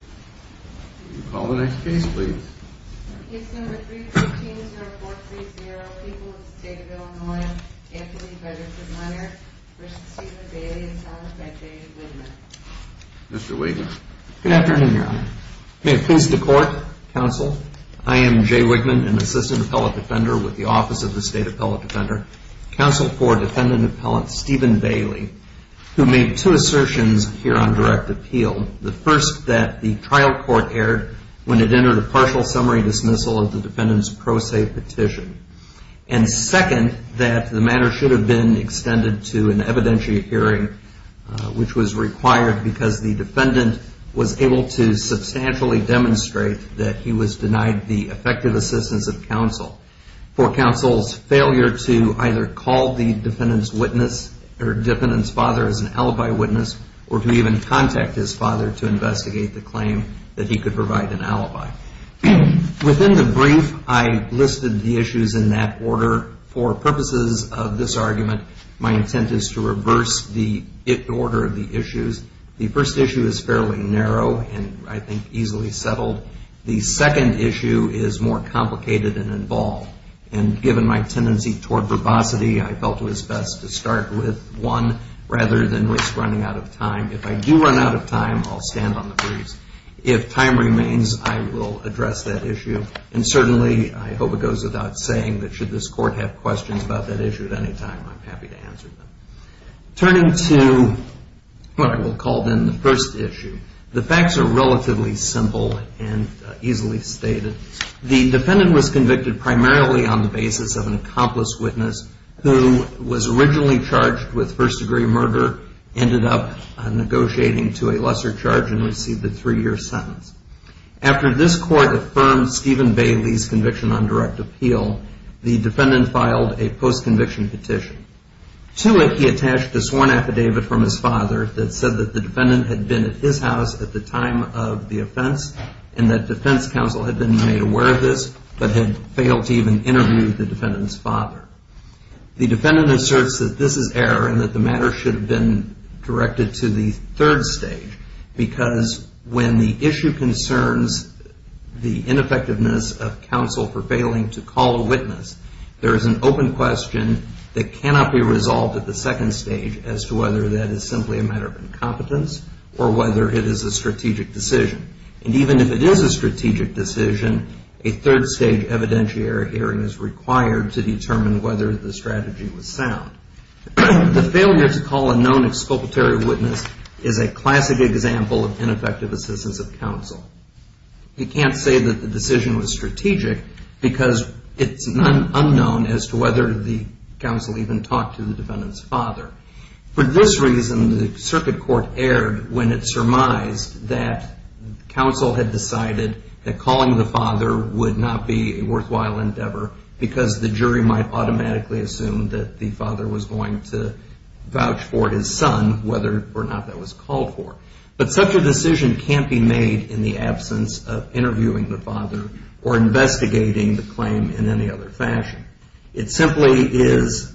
Can you please be seated? Mr. Wigman. Good afternoon, Your Honor. May it please the Court, Counsel, I am Jay Wigman, an assistant appellate defender with the Office of the State Appellate Defender. Counsel for defendant appellant Stephen Bailey, who made two assertions here on direct appeal. The first, that the trial court erred when it entered a partial summary dismissal of the defendant's pro se petition. And second, that the matter should have been extended to an evidentiary hearing, which was required because the defendant was able to substantially demonstrate that he was denied the effective assistance of counsel. For counsel's failure to either call the defendant's witness or defendant's father as an alibi witness, or to even contact his father to investigate the claim, that he could provide an alibi. Within the brief, I listed the issues in that order. For purposes of this argument, my intent is to reverse the order of the issues. The first issue is fairly narrow and I think easily settled. The second issue is more complicated and involved. And given my tendency toward verbosity, I felt it was best to start with one rather than risk running out of time. If I do run out of time, I'll stand on the briefs. If time remains, I will address that issue. And certainly, I hope it goes without saying that should this court have questions about that issue at any time, I'm happy to answer them. Turning to what I will call then the first issue, the facts are relatively simple and easily stated. The defendant was convicted primarily on the basis of an accomplice witness who was originally charged with first degree murder, ended up negotiating to a lesser charge, and received a three-year sentence. After this court affirmed Stephen Bailey's conviction on direct appeal, the defendant filed a post-conviction petition. To it, he attached a sworn affidavit from his father that said that the defendant had been at his house at the time of the offense, and that defense counsel had been made aware of this, but had failed to even interview the defendant's father. The defendant asserts that this is error, and that the matter should have been directed to the third stage, because when the issue concerns the ineffectiveness of counsel for failing to call a witness, there is an open question that cannot be resolved at the second stage as to whether that is simply a matter of incompetence, or whether it is a strategic decision. And even if it is a strategic decision, a third stage evidentiary hearing is required to determine whether the strategy was sound. The failure to call a known expulsory witness is a classic example of ineffective assistance of counsel. You can't say that the decision was strategic, because it's unknown as to whether the counsel even talked to the defendant's father. For this reason, the circuit court erred when it surmised that counsel had decided that the jury might automatically assume that the father was going to vouch for his son, whether or not that was called for. But such a decision can't be made in the absence of interviewing the father or investigating the claim in any other fashion. It simply is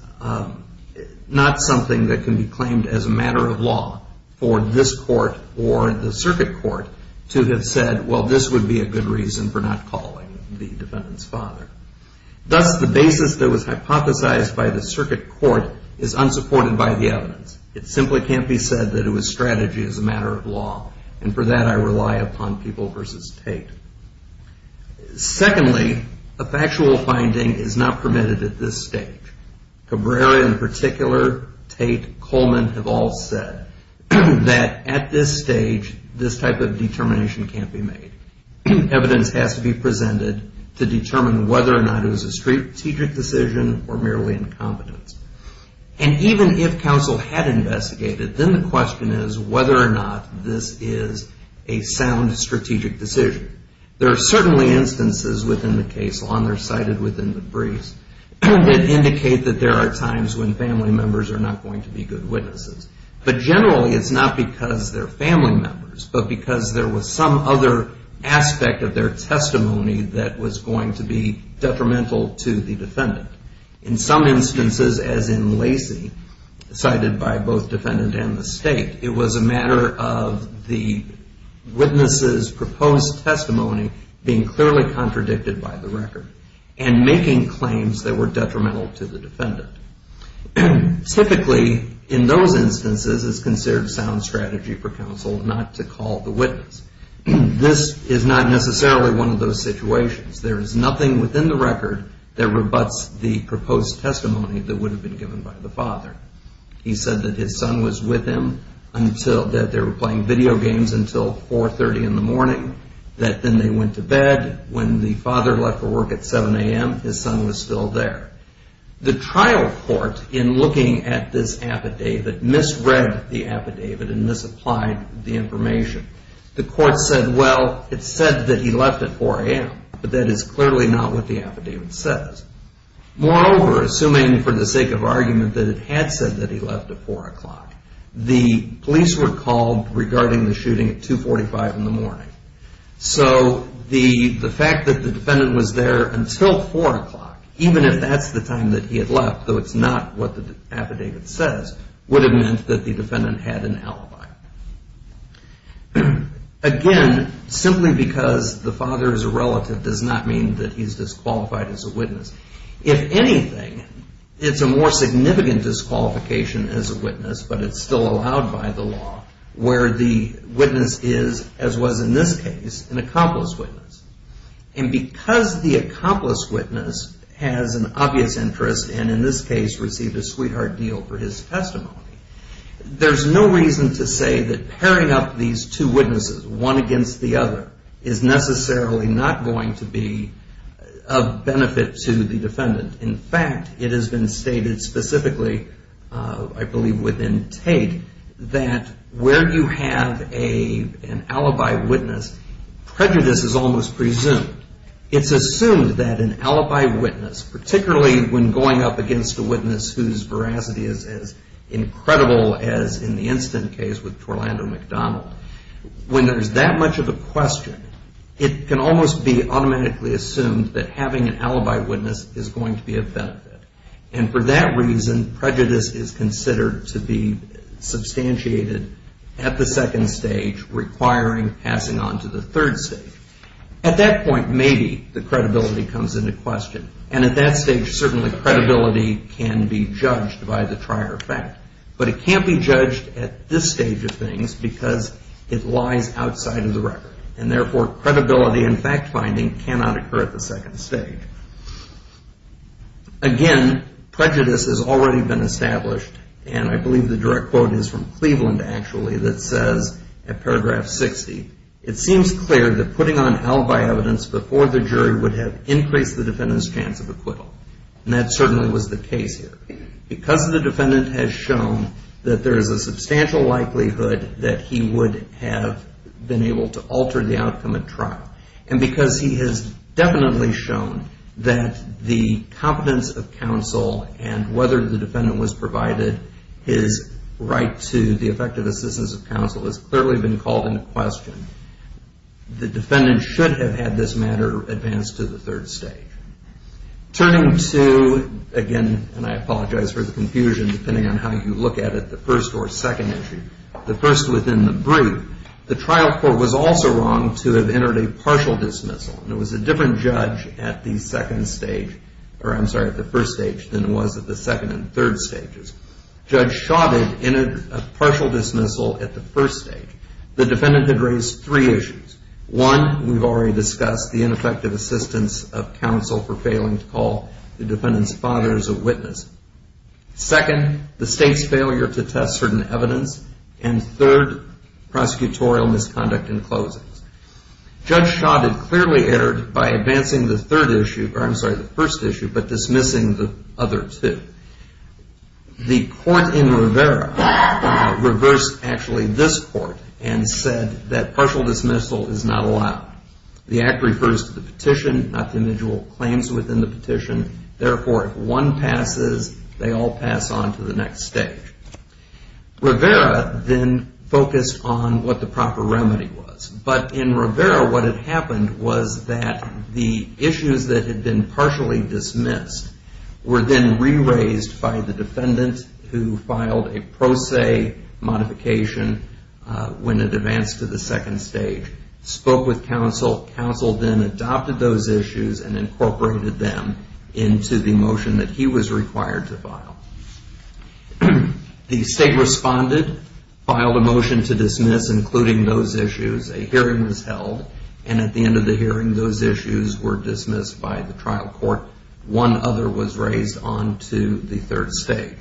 not something that can be claimed as a matter of law for this court or the circuit court to have said, well, this would be a good reason for not calling the defendant's father. Thus, the basis that was hypothesized by the circuit court is unsupported by the evidence. It simply can't be said that it was strategy as a matter of law. And for that, I rely upon People v. Tate. Secondly, a factual finding is not permitted at this stage. Cabrera, in particular, Tate, Coleman have all said that at this stage, this type of determination can't be made. Evidence has to be presented to determine whether or not it was a strategic decision or merely incompetence. And even if counsel had investigated, then the question is whether or not this is a sound strategic decision. There are certainly instances within the case law, and they're cited within the briefs, that indicate that there are times when family members are not going to be good witnesses. But generally, it's not because they're family members, but because there was some other aspect of their testimony that was going to be detrimental to the defendant. In some instances, as in Lacey, cited by both defendant and the state, it was a matter of the witness's proposed testimony being clearly contradicted by the record and making claims that were detrimental to the defendant. Typically, in those instances, it's considered sound strategy for counsel not to call the witness. This is not necessarily one of those situations. There is nothing within the record that rebutts the proposed testimony that would have been given by the father. He said that his son was with him, that they were playing video games until 4.30 in the morning, that then they went to bed. When the father left for work at 7 a.m., his son was still there. The trial court, in looking at this affidavit, misread the affidavit and misapplied the information. The court said, well, it said that he left at 4 a.m., but that is clearly not what the affidavit says. Moreover, assuming for the sake of argument that it had said that he left at 4 o'clock, the police were called regarding the shooting at 2.45 in the morning. So the fact that the defendant was there until 4 o'clock, even if that's the time that he had left, though it's not what the affidavit says, would have meant that the defendant had an alibi. Again, simply because the father is a relative does not mean that he's disqualified as a witness. If anything, it's a more significant disqualification as a witness, but it's still allowed by the case, an accomplice witness. And because the accomplice witness has an obvious interest and in this case received a sweetheart deal for his testimony, there's no reason to say that pairing up these two witnesses, one against the other, is necessarily not going to be of benefit to the defendant. In fact, it has been stated specifically, I believe within Tate, that where you have an alibi witness, prejudice is almost presumed. It's assumed that an alibi witness, particularly when going up against a witness whose veracity is as incredible as in the instant case with Torlando McDonald, when there's that much of a question, it can almost be automatically assumed that having an alibi witness is going to be of benefit. And for that reason, prejudice is considered to be substantiated at the second stage, requiring passing on to the third stage. At that point, maybe the credibility comes into question. And at that stage, certainly credibility can be judged by the prior fact. But it can't be judged at this stage of things because it lies outside of the record. And therefore, credibility and fact-finding cannot occur at the second stage. Again, prejudice has already been established. And I believe the direct quote is from Cleveland, actually, that says, at paragraph 60, it seems clear that putting on alibi evidence before the jury would have increased the defendant's chance of acquittal. And that certainly was the case here. Because the defendant has shown that there is a substantial likelihood that he would have been able to alter the outcome at trial. And because he has definitely shown that the competence of counsel and whether the defendant was provided his right to the effective assistance of counsel has clearly been called into question, the defendant should have had this matter advanced to the third stage. Turning to, again, and I apologize for the confusion, depending on how you look at it, the first or second entry, the first within the brief, the trial court was also wrong to have entered a partial dismissal. And it was a different judge at the second stage, or I'm sorry, at the first stage than it was at the second and third stages. Judge Shaw did enter a partial dismissal at the first stage. The defendant had raised three issues. One, we've already discussed the ineffective assistance of counsel for failing to call the defendant's father as a witness. Second, the state's failure to test certain evidence. And third, prosecutorial misconduct in closings. Judge Shaw had clearly entered by advancing the third issue, or I'm sorry, the first issue, but dismissing the other two. The court in Rivera reversed actually this court and said that partial dismissal is not allowed. The act refers to the petition, not the individual claims within the petition. Therefore, if one passes, they all pass on to the next stage. Rivera then focused on what the proper remedy was. But in Rivera, what had happened was that the issues that had been partially dismissed were then re-raised by the defendant who filed a pro se modification when it advanced to the second stage, spoke with counsel, counsel then adopted those issues and incorporated them into the motion that he was required to file. The state responded, filed a motion to dismiss including those issues, a hearing was held, and at the end of the hearing, those issues were dismissed by the trial court. One other was raised on to the third stage.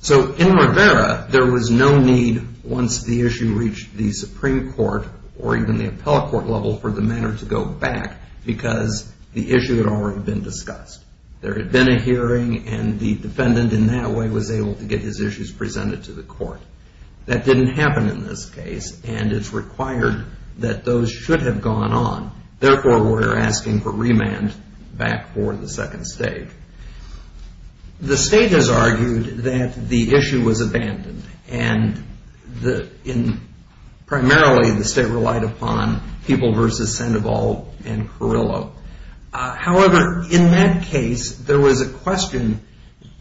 So in Rivera, there was no need once the issue reached the Supreme Court or even the appellate court level for the matter to go back because the issue had already been discussed. There had been a hearing and the defendant in that way was able to get his issues presented to the court. That didn't happen in this case and it's required that those should have gone on. Therefore, we're asking for remand back for the second stage. The state has argued that the issue was abandoned and primarily the state relied upon People versus Sandoval and Carrillo. However, in that case, there was a question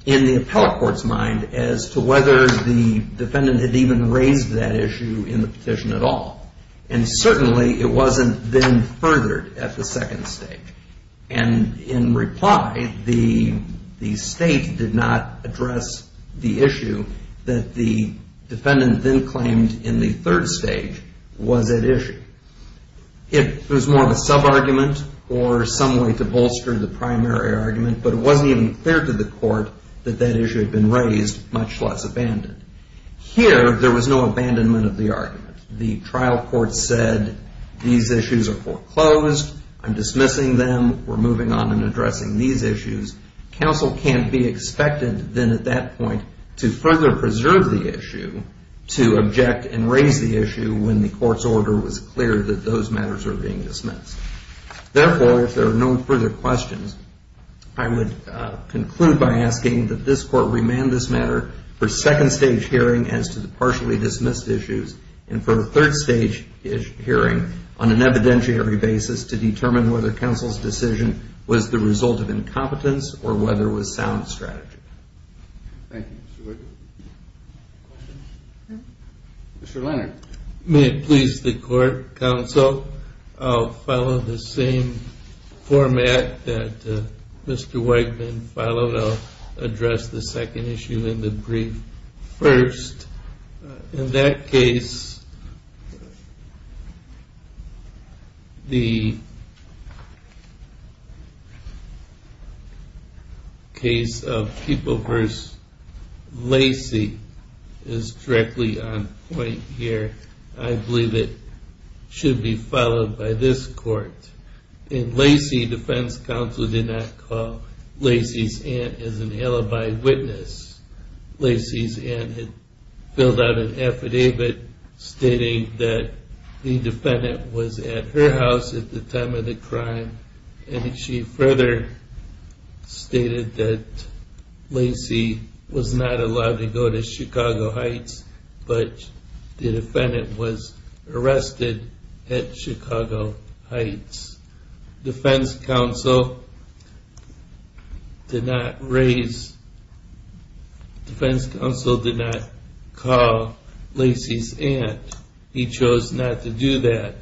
in the appellate court's mind as to whether the defendant had even raised that issue in the petition at all. And certainly, it wasn't then furthered at the second stage. And in reply, the state did not address the issue that the defendant then claimed in the third stage was at issue. It was more of a sub-argument or some way to bolster the primary argument, but it wasn't even clear to the court that that issue had been raised, much less abandoned. Here, there was no abandonment of the argument. The trial court said, these issues are foreclosed, I'm dismissing them, we're moving on in addressing these issues. Counsel can't be expected then at that point to further preserve the issue to object and raise the issue when the court's order was clear that those matters were being dismissed. Therefore, if there are no further questions, I would conclude by asking that this court remand this matter for second stage hearing as to the partially dismissed issues and for the third stage hearing on an evidentiary basis to determine whether counsel's decision was the result of incompetence or whether it was sound strategy. Thank you, Mr. Wigman. Mr. Leonard. May it please the court, counsel, I'll follow the same format that Mr. Wigman followed. I'll address the second issue in the brief first. In that case, the case of People v. Lacey is directly on point here. I believe it should be followed by this court. In Lacey, defense counsel did not call Lacey's aunt as an alibi witness. Lacey's aunt had filled out an affidavit stating that the defendant was at her house at the time of the crime and she further stated that Lacey was not allowed to go to Chicago Heights but the defendant was arrested at Chicago Heights. Defense counsel did not raise, defense counsel did not call Lacey's aunt. He chose not to do that.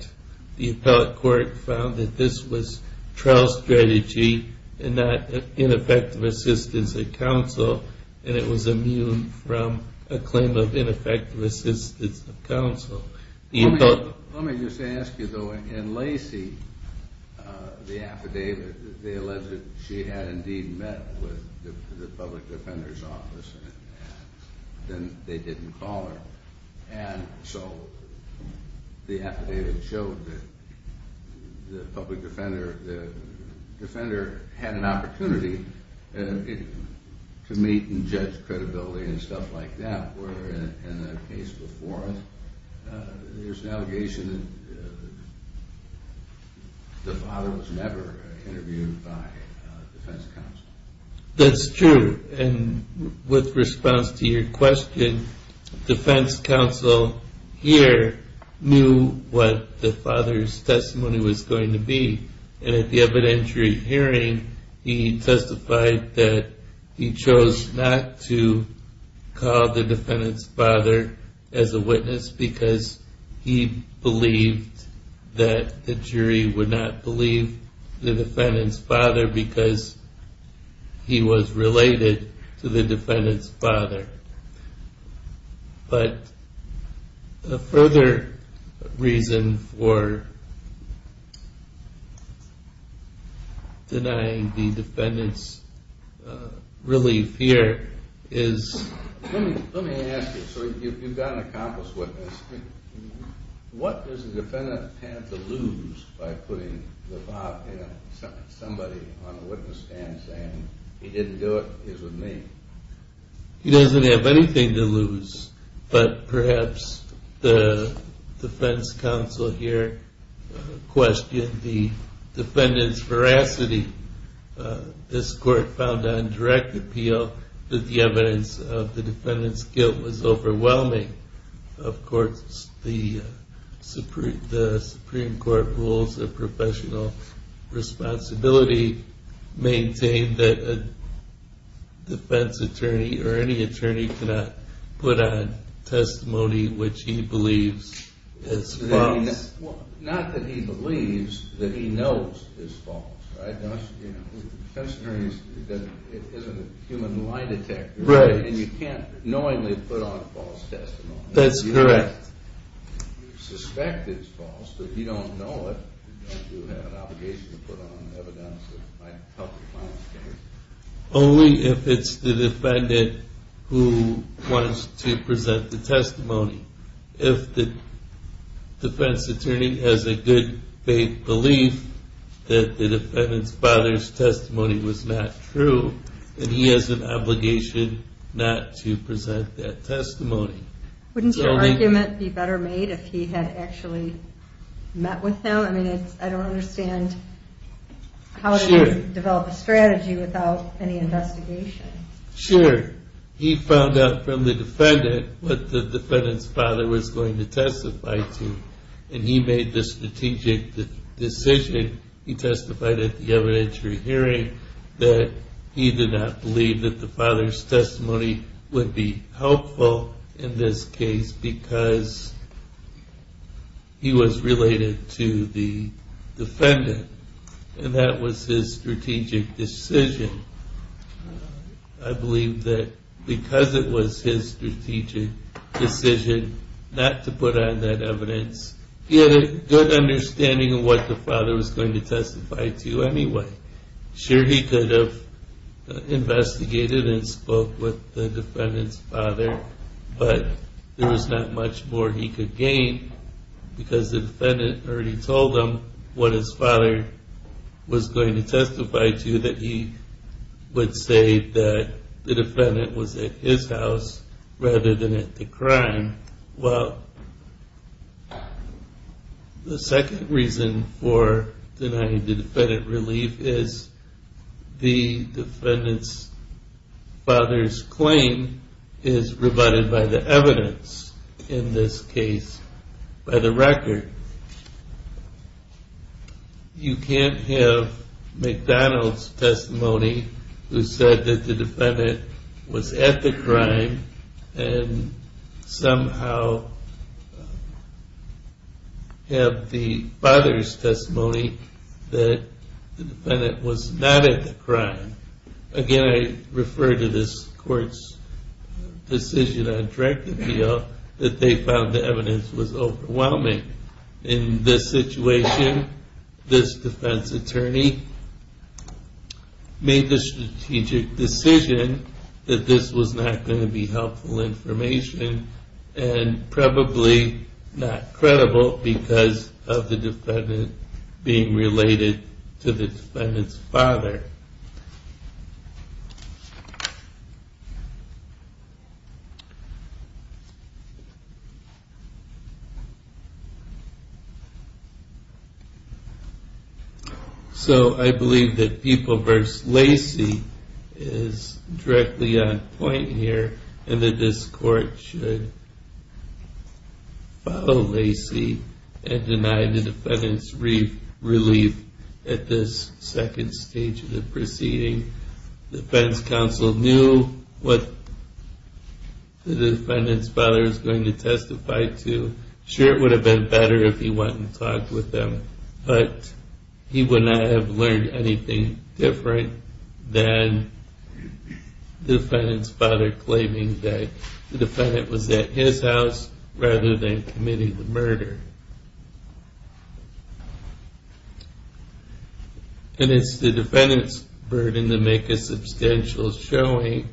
The appellate court found that this was trial strategy and not ineffective assistance of counsel and it was immune from a claim of ineffective assistance of counsel. Let me just ask you though, in Lacey, the affidavit, they alleged that she had indeed met with the public defender's office and they didn't call her and so the affidavit showed that the public defender had an opportunity to meet and judge credibility and stuff like that where in the case before there's an allegation that the father was never interviewed by defense counsel. That's true and with response to your question, defense counsel here knew what the father's testimony was going to be and at the evidentiary hearing, he testified that he chose not to call the defendant's father as a witness because he believed that the jury would not believe the defendant's father because he was related to the defendant's father. But the further reason for denying the defendant's relief here is... Let me ask you, so you've got an accomplice witness. What does the defendant have to lose by putting somebody on the witness stand saying he didn't do it, he's with me? He doesn't have anything to lose but perhaps the defense counsel here questioned the defendant's veracity. This court found on direct appeal that the evidence of the defendant's guilt was overwhelming. Of course the Supreme Court rules of professional responsibility maintain that a defense attorney or any attorney cannot put on testimony which he believes is false. Not that he believes, that he knows is false. A defense attorney isn't a human lie detector and you can't knowingly put on false testimony. That's correct. You suspect it's false but you don't know it. You have an obligation to put on evidence that might help the client's case. Only if it's the defendant who wants to present the testimony. If the defense attorney has a good faith belief that the defendant's father's testimony was not true then he has an obligation not to present that testimony. Wouldn't your argument be better made if he had actually met with them? I don't understand how to develop a strategy without any investigation. Sure, he found out from the defendant what the defendant's father was going to testify to and he made the strategic decision. He testified at the evidentiary hearing that he did not believe that the father's testimony would be helpful in this case because he was related to the defendant. And that was his strategic decision. I believe that because it was his strategic decision not to put on that evidence he had a good understanding of what the father was going to testify to anyway. Sure he could have investigated and spoke with the defendant's father but there was not much more he could gain because the defendant already told him what his father was going to testify to that he would say that the defendant was at his house rather than at the crime. Well, the second reason for denying the defendant relief is the defendant's father's claim is rebutted by the evidence in this case by the record. You can't have McDonald's testimony who said that the defendant was at the crime and somehow have the father's testimony that the defendant was not at the crime. Again, I refer to this court's decision on Drekkenfield that they found the evidence was overwhelming. In this situation, this defense attorney made the strategic decision that this was not going to be helpful information and probably not credible because of the defendant being related to the defendant's father. So I believe that Pupil v. Lacey is directly on point here and that this court should follow Lacey and deny the defendant's relief at this second stage of the proceeding. The defense counsel knew what the defendant's father was going to testify to. Sure, it would have been better if he went and talked with them but he would not have learned anything different than the defendant's father claiming that the defendant was at his house rather than committing the murder. And it's the defendant's burden to make a substantial showing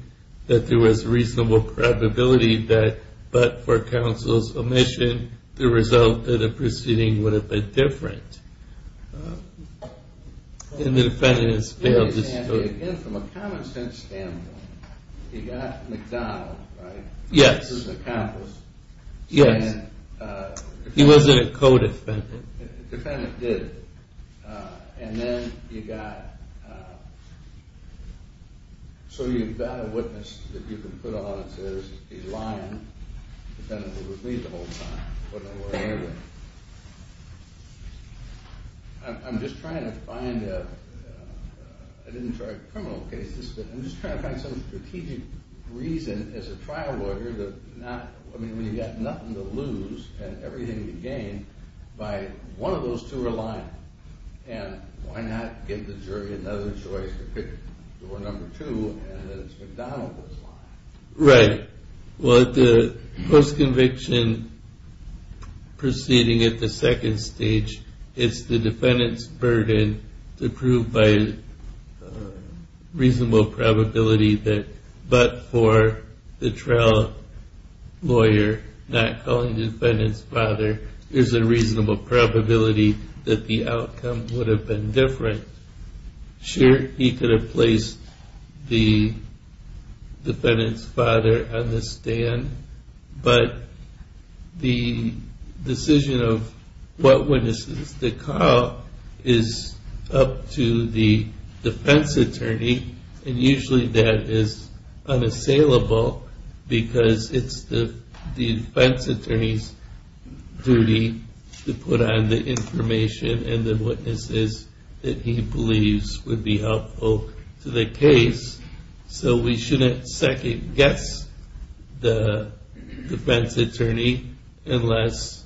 that there was reasonable probability that but for counsel's omission the result of the proceeding would have been different. And the defendant has failed this court. Again, from a common sense standpoint, he got McDonald, right? Yes. He was an accomplice. Yes. He wasn't a co-defendant. Defendant did. And then you got, so you've got a witness that you can put on and say, I'm just trying to find a, I didn't try criminal cases, but I'm just trying to find some strategic reason as a trial lawyer that not, I mean, we've got nothing to lose and everything to gain by one of those two are lying. And why not give the jury another choice to pick door number two and it's McDonald that's lying. Right. Well, the post-conviction proceeding at the second stage, it's the defendant's burden to prove by reasonable probability that but for the trial lawyer not calling the defendant's father, there's a reasonable probability that the outcome would have been different. Sure, he could have placed the defendant's father on the stand, but the decision of what witnesses to call is up to the defense attorney, and usually that is unassailable because it's the defense attorney's duty to put on the information and the witnesses that he believes would be helpful to the case, so we shouldn't second-guess the defense attorney unless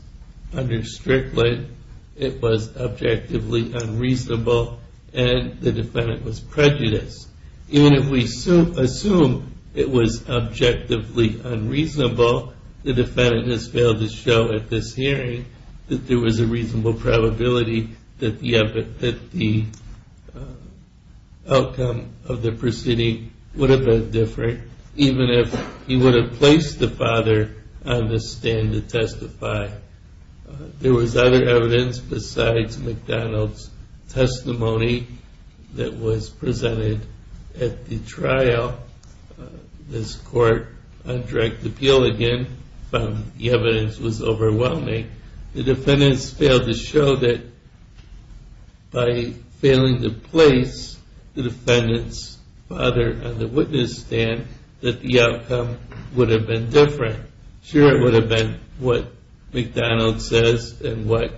under Strickland it was objectively unreasonable and the defendant was prejudiced. Even if we assume it was objectively unreasonable, the defendant has failed to show at this hearing that there was a reasonable probability that the outcome of the proceeding would have been different, even if he would have placed the father on the stand to testify. There was other evidence besides McDonald's testimony that was presented at the trial. This court on direct appeal again found the evidence was overwhelming. The defendants failed to show that by failing to place the defendant's father on the witness stand that the outcome would have been different. Sure, it would have been what McDonald's says and what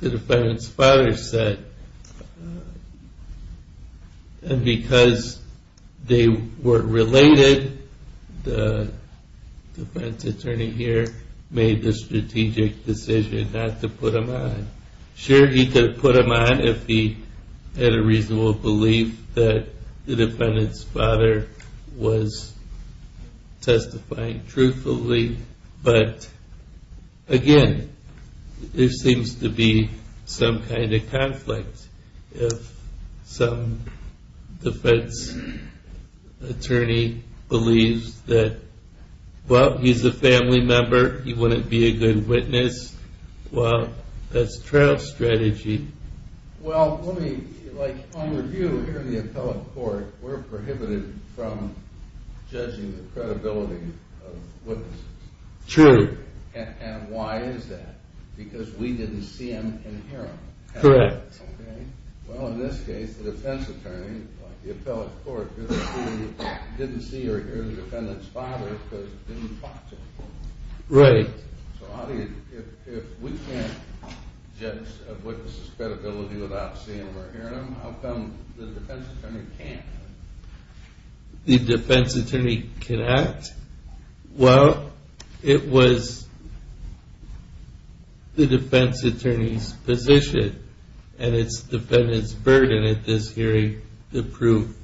the defendant's father said, but because they were related, the defense attorney here made the strategic decision not to put him on. Sure, he could have put him on if he had a reasonable belief that the defendant's father was testifying truthfully, but again, there seems to be some kind of conflict. If some defense attorney believes that, well, he's a family member, he wouldn't be a good witness, well, that's trial strategy. Well, on review, here in the appellate court, we're prohibited from judging the credibility of witnesses. True. And why is that? Because we didn't see him and hear him. Correct. Well, in this case, the defense attorney, the appellate court, didn't see or hear the defendant's father because they didn't talk to him. Right. So if we can't judge a witness's credibility without seeing or hearing him, how come the defense attorney can't? The defense attorney can act? Well, it was the defense attorney's position and its defendant's burden at this hearing to prove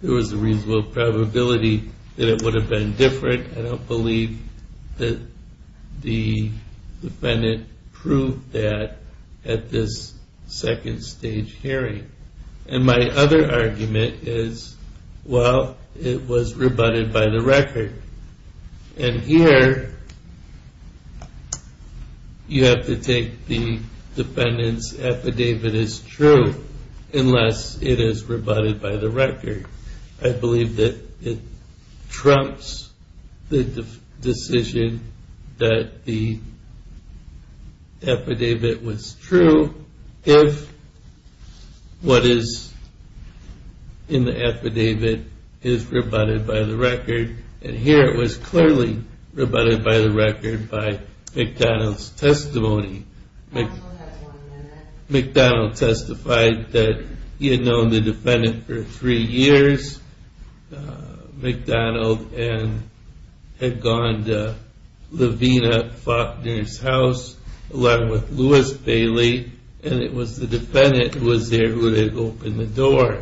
there was a reasonable probability that it would have been different. I don't believe that the defendant proved that at this second stage hearing. And my other argument is, well, it was rebutted by the record. And here, you have to take the defendant's affidavit as true unless it is rebutted by the record. I believe that it trumps the decision that the affidavit was true if what is in the affidavit is rebutted by the record. And here, it was clearly rebutted by the record by McDonald's testimony. McDonald testified that he had known the defendant for three years. McDonald had gone to Levina Faulkner's house, along with Louis Bailey, and it was the defendant who was there who had opened the door.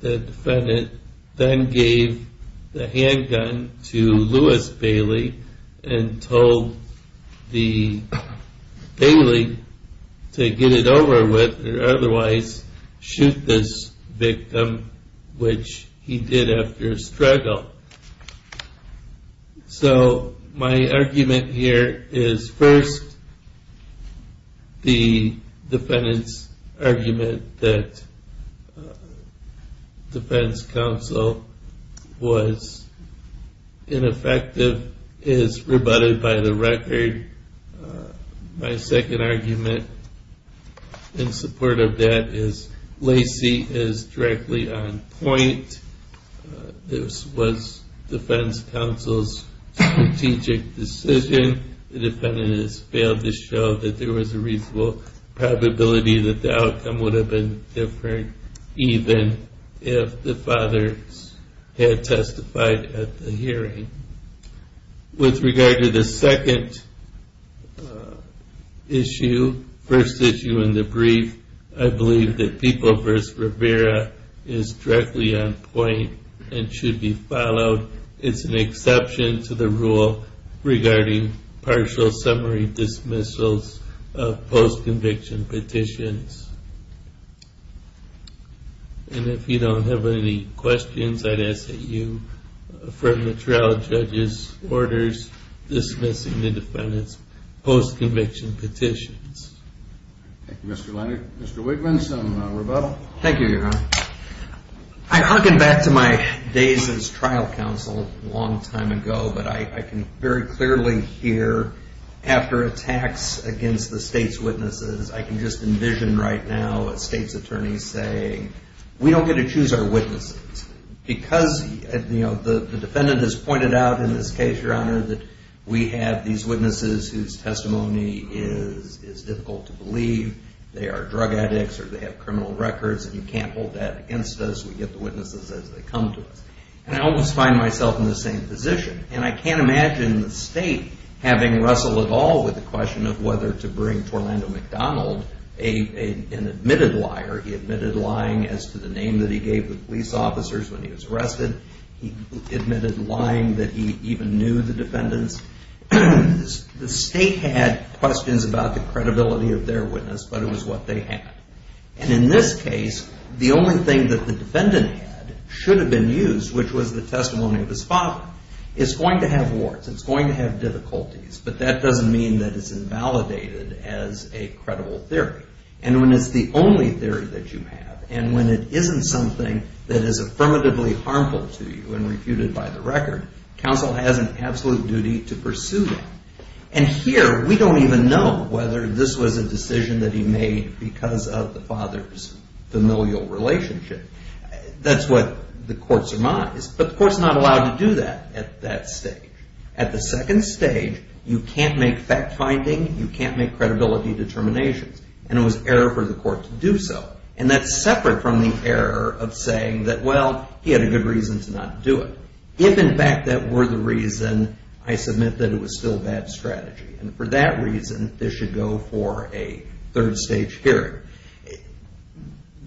The defendant then gave the handgun to Louis Bailey and told Bailey to get it over with or otherwise shoot this victim, which he did after a struggle. So my argument here is first, the defendant's argument that defense counsel was ineffective is rebutted by the record. My second argument in support of that is Lacey is directly on point. This was defense counsel's strategic decision. The defendant has failed to show that there was a reasonable probability that the outcome would have been different even if the father had testified at the hearing. With regard to the second issue, first issue in the brief, I believe that People v. Rivera is directly on point and should be followed. It's an exception to the rule regarding partial summary dismissals of post-conviction petitions. And if you don't have any questions, I'd ask that you affirm the trial judge's orders dismissing the defendant's post-conviction petitions. Thank you, Mr. Leonard. Mr. Wigman, some rebuttal? I'm hunkering back to my days as trial counsel a long time ago, but I can very clearly hear after attacks against the state's witnesses, I can just envision right now a state's attorney saying, we don't get to choose our witnesses. Because the defendant has pointed out in this case, Your Honor, that we have these witnesses whose testimony is difficult to believe. They are drug addicts or they have criminal records, and you can't hold that against us. We get the witnesses as they come to us. And I almost find myself in the same position. And I can't imagine the state having to wrestle at all with the question of whether to bring Orlando McDonald, an admitted liar. He admitted lying as to the name that he gave the police officers when he was arrested. He admitted lying that he even knew the defendants. The state had questions about the credibility of their witness, but it was what they had. And in this case, the only thing that the defendant had should have been used, which was the testimony of his father, is going to have warrants. It's going to have difficulties, but that doesn't mean that it's invalidated as a credible theory. And when it's the only theory that you have, and when it isn't something that is affirmatively harmful to you and refuted by the record, counsel has an absolute duty to pursue that. And here, we don't even know whether this was a decision that he made because of the father's familial relationship. That's what the court surmised. But the court's not allowed to do that at that stage. At the second stage, you can't make fact-finding, you can't make credibility determinations. And it was error for the court to do so. And that's separate from the error of saying that, well, he had a good reason to not do it. If, in fact, that were the reason, I submit that it was still bad strategy. And for that reason, this should go for a third-stage hearing.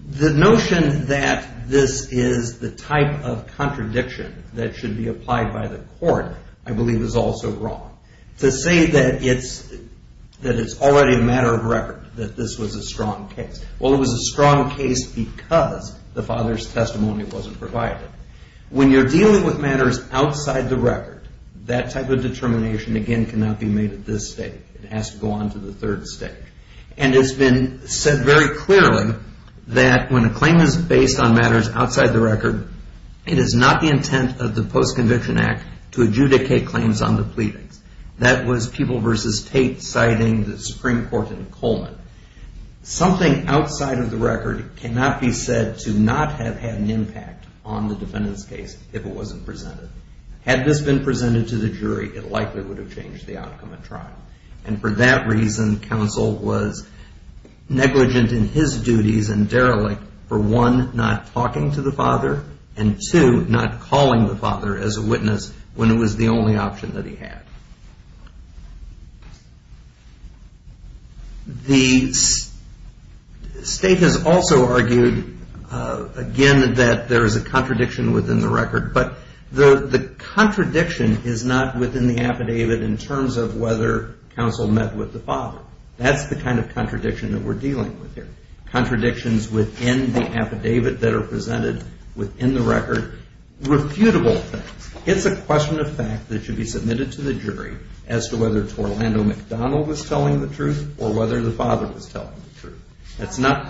The notion that this is the type of contradiction that should be applied by the court, I believe, is also wrong. To say that it's already a matter of record, that this was a strong case. Well, it was a strong case because the father's testimony wasn't provided. When you're dealing with matters outside the record, that type of determination, again, cannot be made at this stage. It has to go on to the third stage. And it's been said very clearly that when a claim is based on matters outside the record, it is not the intent of the Post-Conviction Act to adjudicate claims on the pleadings. That was People v. Tate citing the Supreme Court in Coleman. Something outside of the record cannot be said to not have had an impact on the defendant's case if it wasn't presented. Had this been presented to the jury, it likely would have changed the outcome of trial. And for that reason, counsel was negligent in his duties and derelict for, one, not talking to the father, and, two, not calling the father as a witness when it was the only option that he had. The state has also argued, again, that there is a contradiction within the record. But the contradiction is not within the affidavit in terms of whether counsel met with the father. That's the kind of contradiction that we're dealing with here. Contradictions within the affidavit that are presented within the record, refutable things. It's a question of fact that should be submitted to the jury as to whether Orlando McDonald was telling the truth or whether the father was telling the truth. That's not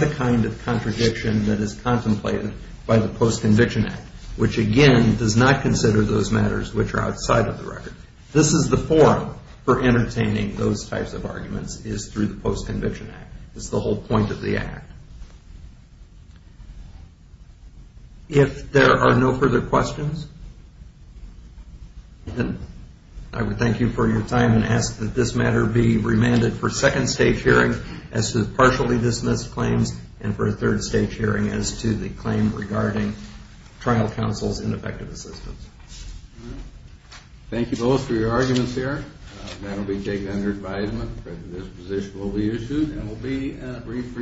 the kind of contradiction that is contemplated by the Post-Conviction Act, which, again, does not consider those matters which are outside of the record. This is the forum for entertaining those types of arguments, is through the Post-Conviction Act. It's the whole point of the Act. If there are no further questions, then I would thank you for your time and ask that this matter be remanded for a second-stage hearing as to partially dismissed claims and for a third-stage hearing as to the claim regarding trial counsel's ineffective assistance. Thank you both for your arguments here. That will be taken under advisement. This position will be issued and will be briefed...